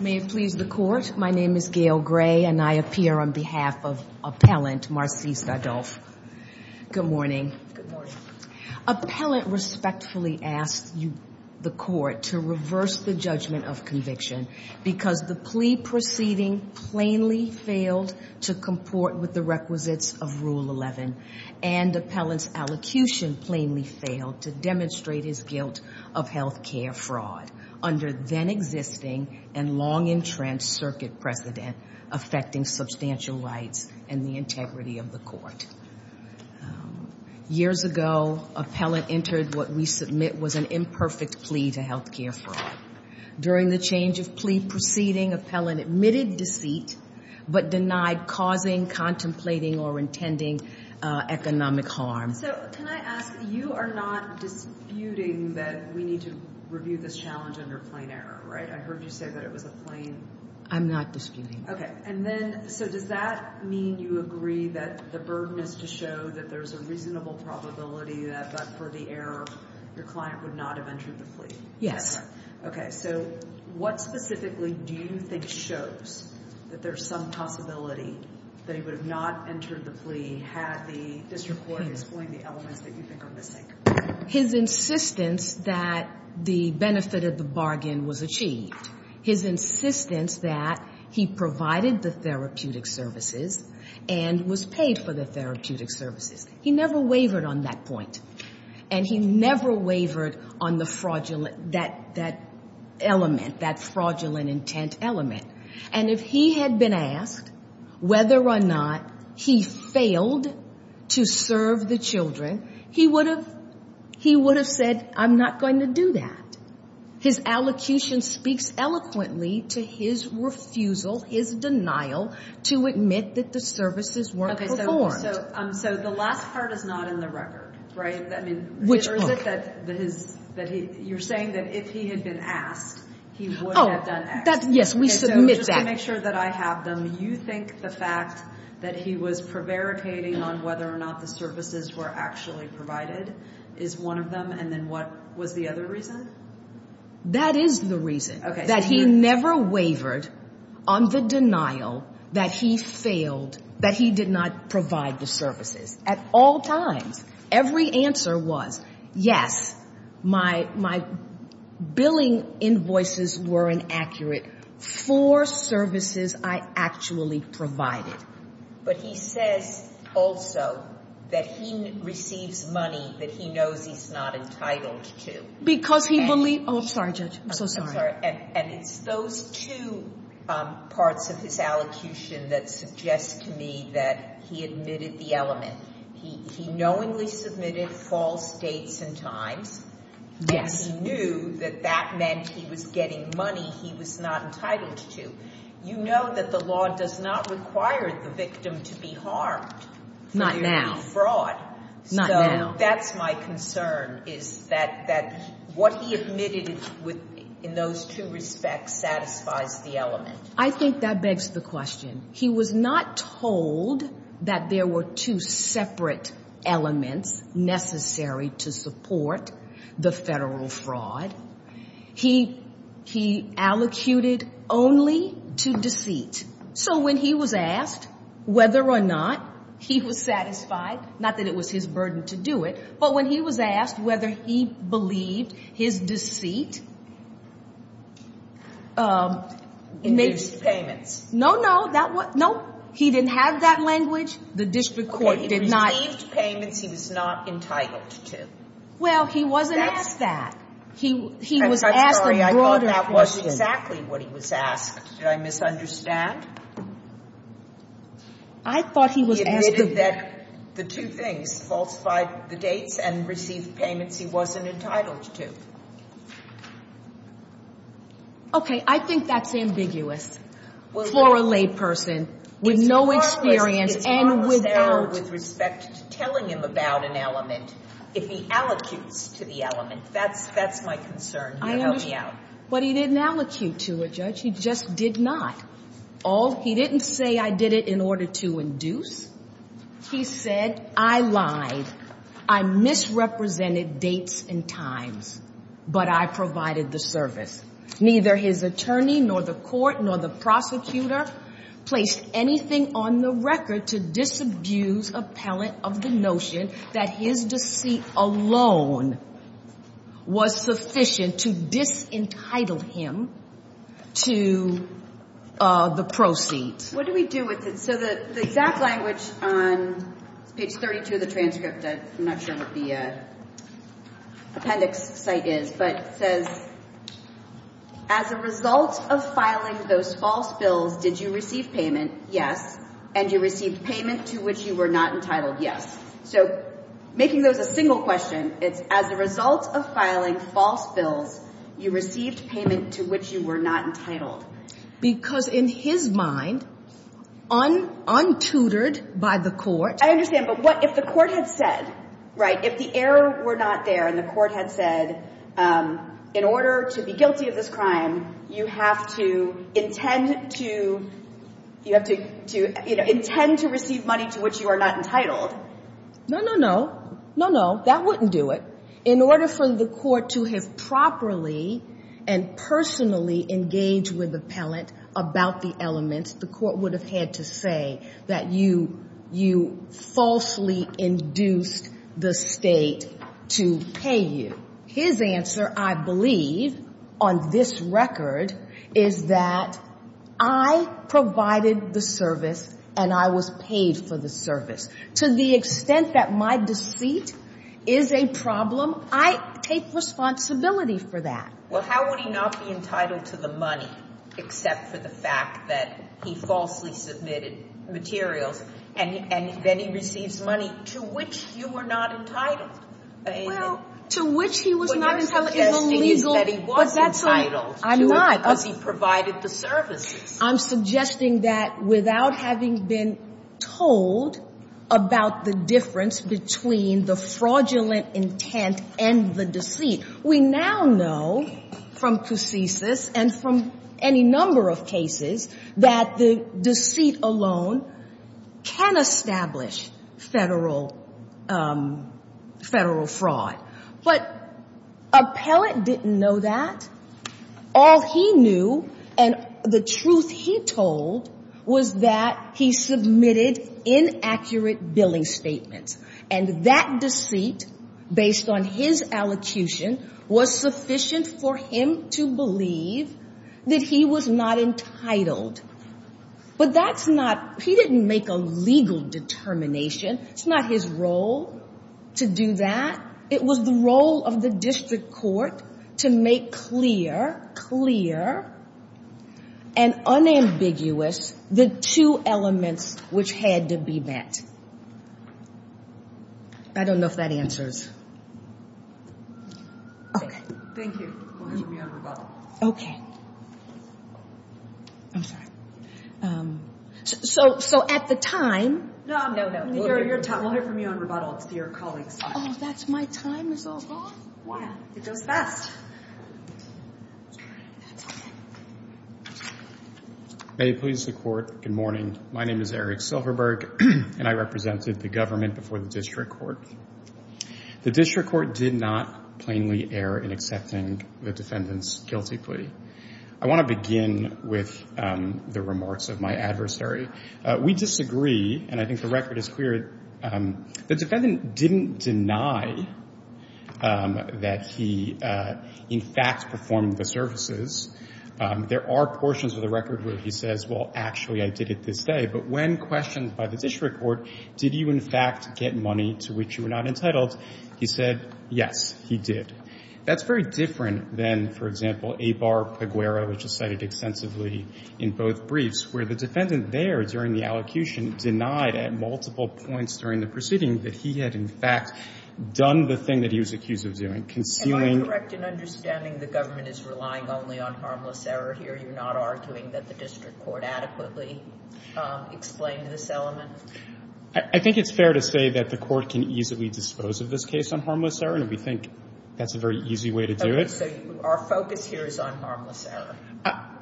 May it please the court, my name is Gail Gray and I appear on behalf of appellant Marcia Adolphe. Good morning. Appellant respectfully asked the court to reverse the judgment of conviction because the plea proceeding plainly failed to comport with the requisites of Rule 11 and appellant's execution plainly failed to demonstrate his guilt of health care fraud under then-existing and long-entrenched circuit precedent affecting substantial rights and the integrity of the court. Years ago, appellant entered what we submit was an imperfect plea to health care fraud. During the change of plea proceeding, appellant admitted deceit but denied causing, contemplating, or intending economic harm. So can I ask, you are not disputing that we need to review this challenge under plain error, right? I heard you say that it was a plain... I'm not disputing. Okay, and then so does that mean you agree that the burden is to show that there's a reasonable probability that but for the error your client would not have entered the plea? Yes. Okay, so what specifically do you think shows that there's some possibility that he would have not entered the plea had the district court explained the elements that you think are missing? His insistence that the benefit of the bargain was achieved, his insistence that he provided the therapeutic services and was paid for the therapeutic services. He never wavered on that point and he never wavered on the fraudulent, that element, that fraudulent intent element. And if he had been asked whether or not he failed to serve the children, he would have said, I'm not going to do that. His allocution speaks eloquently to his refusal, his denial, to admit that the services weren't performed. Okay, so the last part is not in the record, right? Which part? You're saying that if he had been asked, he wouldn't have done X. Yes, we submit that. Just to make sure that I have them, you think the fact that he was prevaricating on whether or not the services were actually provided is one of them and then what was the other reason? That is the reason. Okay. That he never wavered on the denial that he failed, that he did not provide the services at all times. Every answer was, yes, my billing invoices were inaccurate for services I actually provided. But he says also that he receives money that he knows he's not entitled to. Because he believed, oh, I'm sorry, Judge. I'm so sorry. And it's those two parts of his allocution that suggest to me that he admitted the element. He knowingly submitted false dates and times. Yes. And he knew that that meant he was getting money he was not entitled to. You know that the law does not require the victim to be harmed. Not now. For fraud. Not now. So that's my concern, is that what he admitted in those two respects satisfies the element. I think that begs the question. He was not told that there were two separate elements necessary to support the federal fraud. He allocated only to deceit. So when he was asked whether or not he was satisfied, not that it was his burden to do it, but when he was asked whether he believed his deceit. Induced payments. No, no. That was, no. He didn't have that language. The district court did not. Okay. Received payments he was not entitled to. Well, he wasn't asked that. He was asked a broader question. I'm sorry. I thought that was exactly what he was asked. Did I misunderstand? I thought he was asked that the two things falsified the dates and received payments he wasn't entitled to. Okay. I think that's ambiguous for a layperson with no experience and without. It's harmless error with respect to telling him about an element if he allocutes to the element. That's my concern. Help me out. But he didn't allocate to it, Judge. He just did not. He didn't say I did it in order to induce. He said I lied. I misrepresented dates and times. But I provided the service. Neither his attorney nor the court nor the prosecutor placed anything on the record to disabuse appellant of the notion that his deceit alone was sufficient to disentitle him to the proceeds. What do we do with it? So the exact language on page 32 of the transcript, I'm not sure what the appendix site is, but it says as a result of filing those false bills, did you receive payment? Yes. And you received payment to which you were not entitled? Yes. So making those a single question, it's as a result of filing false bills, you received payment to which you were not entitled because in his mind on untutored by the court. I understand. But what if the court had said, right, if the error were not there and the court had said, in order to be guilty of this crime, you have to intend to you have to intend to receive money to which you are not entitled. No, no, no. No, no. That wouldn't do it. In order for the court to have properly and personally engage with appellant about the elements, the court would have had to say that you falsely induced the state to pay you. His answer, I believe on this record, is that I provided the service and I was paid for the service to the extent that my deceit is a problem. I take responsibility for that. Well, how would he not be entitled to the money except for the fact that he falsely submitted materials and then he receives money to which you were not entitled to, which he was not as he said he was entitled. I'm not as he provided the services. I'm suggesting that without having been told about the difference between the fraudulent intent and the deceit, we now know from cases and from any number of cases that the deceit alone can establish federal federal fraud. But appellant didn't know that. All he knew and the truth he told was that he submitted inaccurate billing statements and that deceit based on his allocution was sufficient for him to believe that he was not entitled. But that's not, he didn't make a legal determination. It's not his role to do that. It was the role of the district court to make clear, clear, and unambiguous the two elements which had to be met. I don't know if that answers. So at the time. No, no, no. We'll hear from you on rebuttal. It's to your colleagues. Oh that's my time is all gone? Yeah, it goes fast. May it please the court, good morning, my name is Eric Silverberg and I represented the government before the district court. The district court did not plainly err in accepting the defendant's guilty plea. I want to begin with the remarks of my adversary. We disagree, and I think the record is clear, the defendant didn't deny that he in fact performed the services. There are portions of the record where he says, well actually I did it this day, but when questioned by the district court, did you in fact get money to which you were not entitled, he said, yes, he did. That's very different than, for example, Abar-Peguero, which is cited extensively in both briefs, where the defendant there during the allocution denied at multiple points during the proceeding that he had in fact done the thing that he was accused of doing, concealing. Am I correct in understanding the government is relying only on harmless error here? Are you not arguing that the district court adequately explained this element? I think it's fair to say that the court can easily dispose of this case on harmless error, and we think that's a very easy way to do it. So our focus here is on harmless error.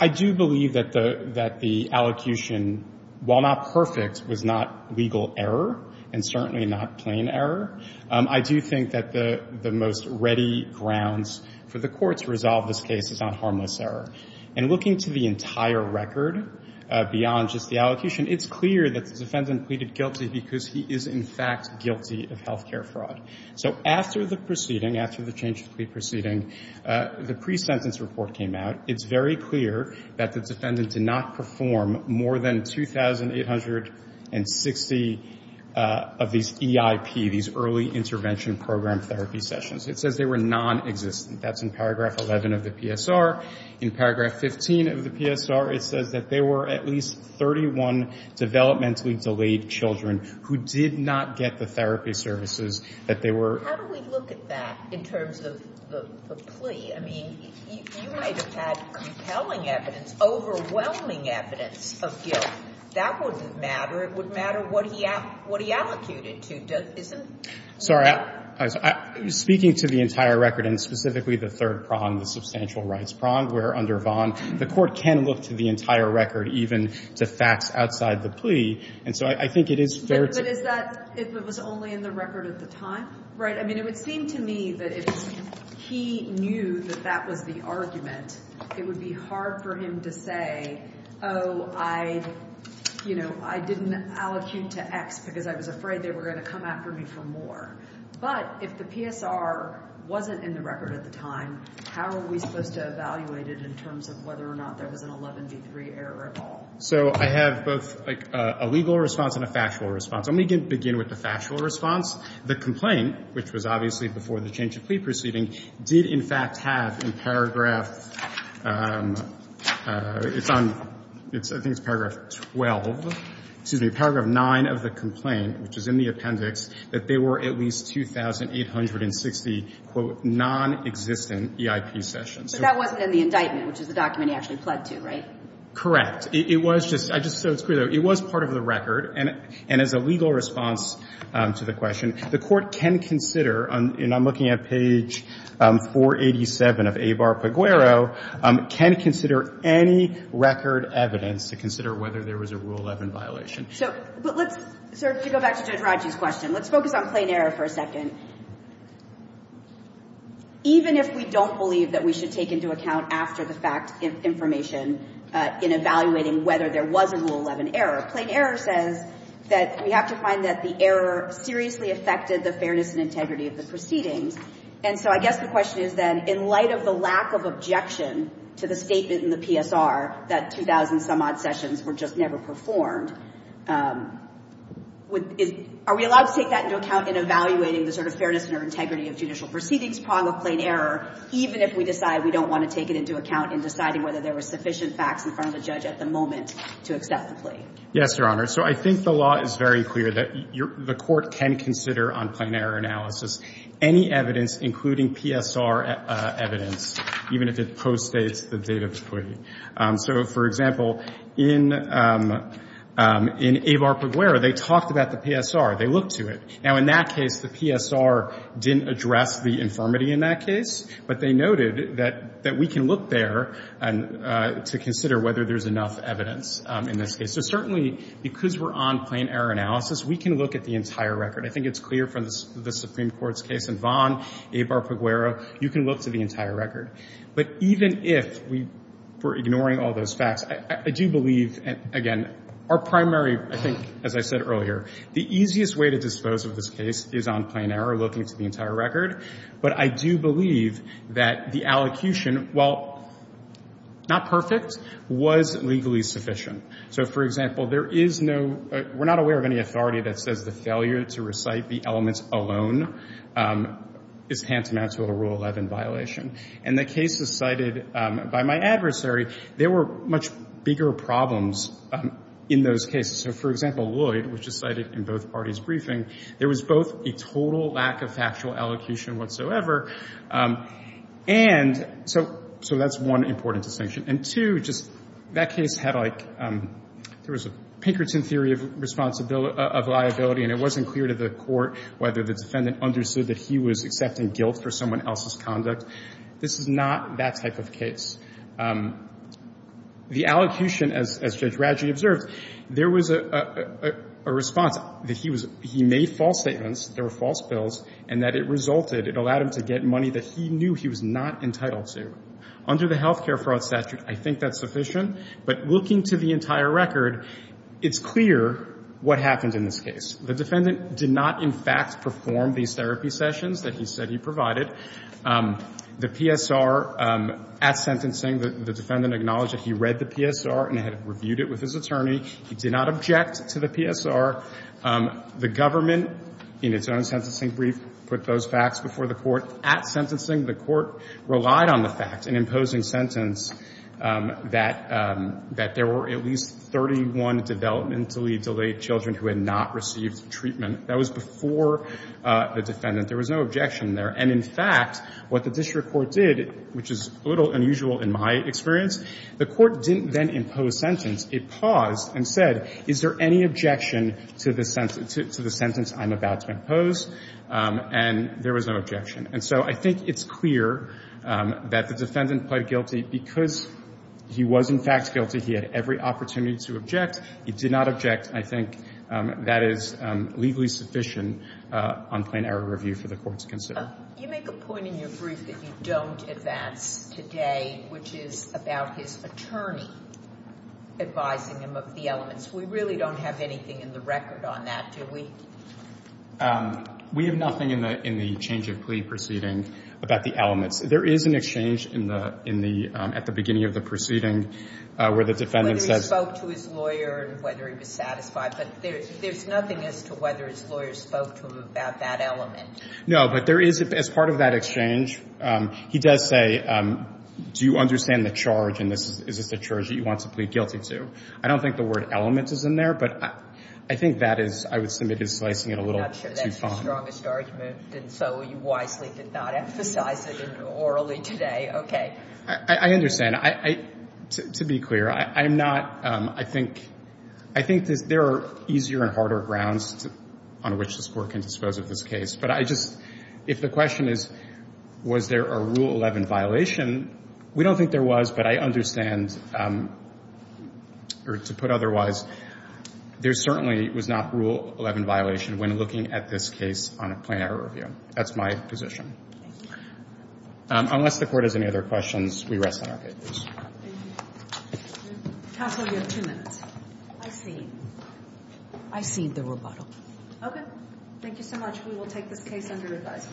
I do believe that the allocution, while not perfect, was not legal error, and certainly not plain error. I do think that the most ready grounds for the court to resolve this case is on harmless error. And looking to the entire record beyond just the allocation, it's clear that the defendant pleaded guilty because he is in fact guilty of health care fraud. So after the proceeding, after the change of plea proceeding, the pre-sentence report came out. It's very clear that the defendant did not perform more than 2,860 of these EIP, these early intervention program therapy sessions. It says they were nonexistent. That's in paragraph 11 of the PSR. In paragraph 15 of the PSR, it says that there were at least 31 developmentally delayed children who did not get the therapy services that they were. How do we look at that in terms of the plea? I mean, you might have had compelling evidence, overwhelming evidence of guilt. That wouldn't matter. It would matter what he allocated to. Sorry, speaking to the entire record, and specifically the third prong, the substantial rights prong, where under Vaughan, the court can look to the entire record, even to facts outside the plea. And so I think it is fair to... But is that if it was only in the record at the time? Right. I mean, it would seem to me that if he knew that that was the argument, it would be hard for him to say, oh, I, you know, I didn't allocate to X because I was afraid they were going to come out. for me for more. But if the PSR wasn't in the record at the time, how are we supposed to evaluate it in terms of whether or not there was an 11 v. 3 error at all? So I have both like a legal response and a factual response. Let me begin with the factual response. The complaint, which was obviously before the change of plea proceeding, did in fact have in paragraph, it's on, I think it's paragraph 12, excuse me, paragraph 9 of the complaint, which is in the appendix, that there were at least 2,860, quote, non-existent EIP sessions. But that wasn't in the indictment, which is the document he actually pled to, right? Correct. It was just, I just said it's clear, though, it was part of the record, and as a legal response to the question, the Court can consider, and I'm looking at page 487 of Avar-Peguero, can consider any record evidence to consider whether there was a Rule 11 violation. So, but let's sort of, to go back to Judge Raji's question, let's focus on plain error for a second. Even if we don't believe that we should take into account after the fact information in evaluating whether there was a Rule 11 error, plain error says that we have to find that the error seriously affected the fairness and integrity of the proceedings. And so I guess the question is then, in light of the lack of objection to the statement in the PSR that 2,000-some-odd sessions were just never performed, are we allowed to take that into account in evaluating the sort of fairness and integrity of judicial proceedings prong of plain error, even if we decide we don't want to take it into account in deciding whether there were sufficient facts in front of the judge at the moment to accept the plea? Yes, Your Honor. So I think the law is very clear that the Court can consider on plain error analysis any evidence, including PSR evidence, even if it postdates the date of the proceedings. So, for example, in Avar-Peguero, they talked about the PSR. They looked to it. Now, in that case, the PSR didn't address the infirmity in that case, but they noted that we can look there to consider whether there's enough evidence in this case. So certainly, because we're on plain error analysis, we can look at the entire record. I think it's clear from the Supreme Court's case in Vaughan, Avar-Peguero, you can look to the entire record. But even if we were ignoring all those facts, I do believe, again, our primary, I think, as I said earlier, the easiest way to dispose of this case is on plain error, looking to the entire record. But I do believe that the allocution, while not perfect, was legally sufficient. So, for example, there is no, we're not aware of any authority that says the failure to recite the elements alone is tantamount to a Rule 11 violation. And the cases cited by my adversary, there were much bigger problems in those cases. So, for example, Lloyd, which is cited in both parties' briefing, there was both a total lack of factual allocution whatsoever, and so that's one important distinction. And two, just that case had like, there was a Pinkerton theory of liability, and it wasn't clear to the court whether the defendant understood that he was accepting guilt for someone else's conduct. This is not that type of case. The allocution, as Judge Radji observed, there was a response that he was, he made false statements, there were false bills, and that it resulted, it allowed him to get money that he knew he was not entitled to. Under the health care fraud statute, I think that's sufficient. But looking to the entire record, it's clear what happened in this case. The defendant did not, in fact, perform these therapy sessions that he said he provided. The PSR, at sentencing, the defendant acknowledged that he read the PSR and had reviewed it with his attorney. He did not object to the PSR. The government, in its own sentencing brief, put those facts before the court. At sentencing, the court relied on the fact, in imposing sentence, that there were at least 31 developmentally delayed children who had not received treatment. That was before the defendant. There was no objection there. And, in fact, what the district court did, which is a little unusual in my experience, the court didn't then impose sentence. It paused and said, is there any objection to the sentence I'm about to impose? And there was no objection. And so I think it's clear that the defendant pled guilty because he was, in fact, guilty. He had every opportunity to object. He did not object. I think that is legally sufficient on plain error review for the court to consider. You make a point in your brief that you don't advance today, which is about his attorney advising him of the elements. We really don't have anything in the record on that, do we? We have nothing in the change of plea proceeding about the elements. There is an exchange in the, in the, at the beginning of the proceeding where the defendant says. Whether he spoke to his lawyer and whether he was satisfied, but there's nothing as to whether his lawyer spoke to him about that element. No, but there is, as part of that exchange, he does say, do you understand the charge? And this is, is this the charge that you want to plead guilty to? I don't think the word element is in there, but I think that is, I would submit is slicing it a little too fine. I'm not sure that's your strongest argument, and so you wisely did not emphasize it orally today. Okay. I understand. I, to be clear, I'm not, I think, I think there are easier and harder grounds on which this court can dispose of this case. But I just, if the question is, was there a Rule 11 violation, we don't think there was, but I understand, or to put otherwise, there certainly was not Rule 11 violation when looking at this case on a plain error review. That's my position. Unless the court has any other questions, we rest on our papers. Counsel, you have two minutes. I see. I see the rebuttal. Okay. Thank you so much. We will take this case under revise.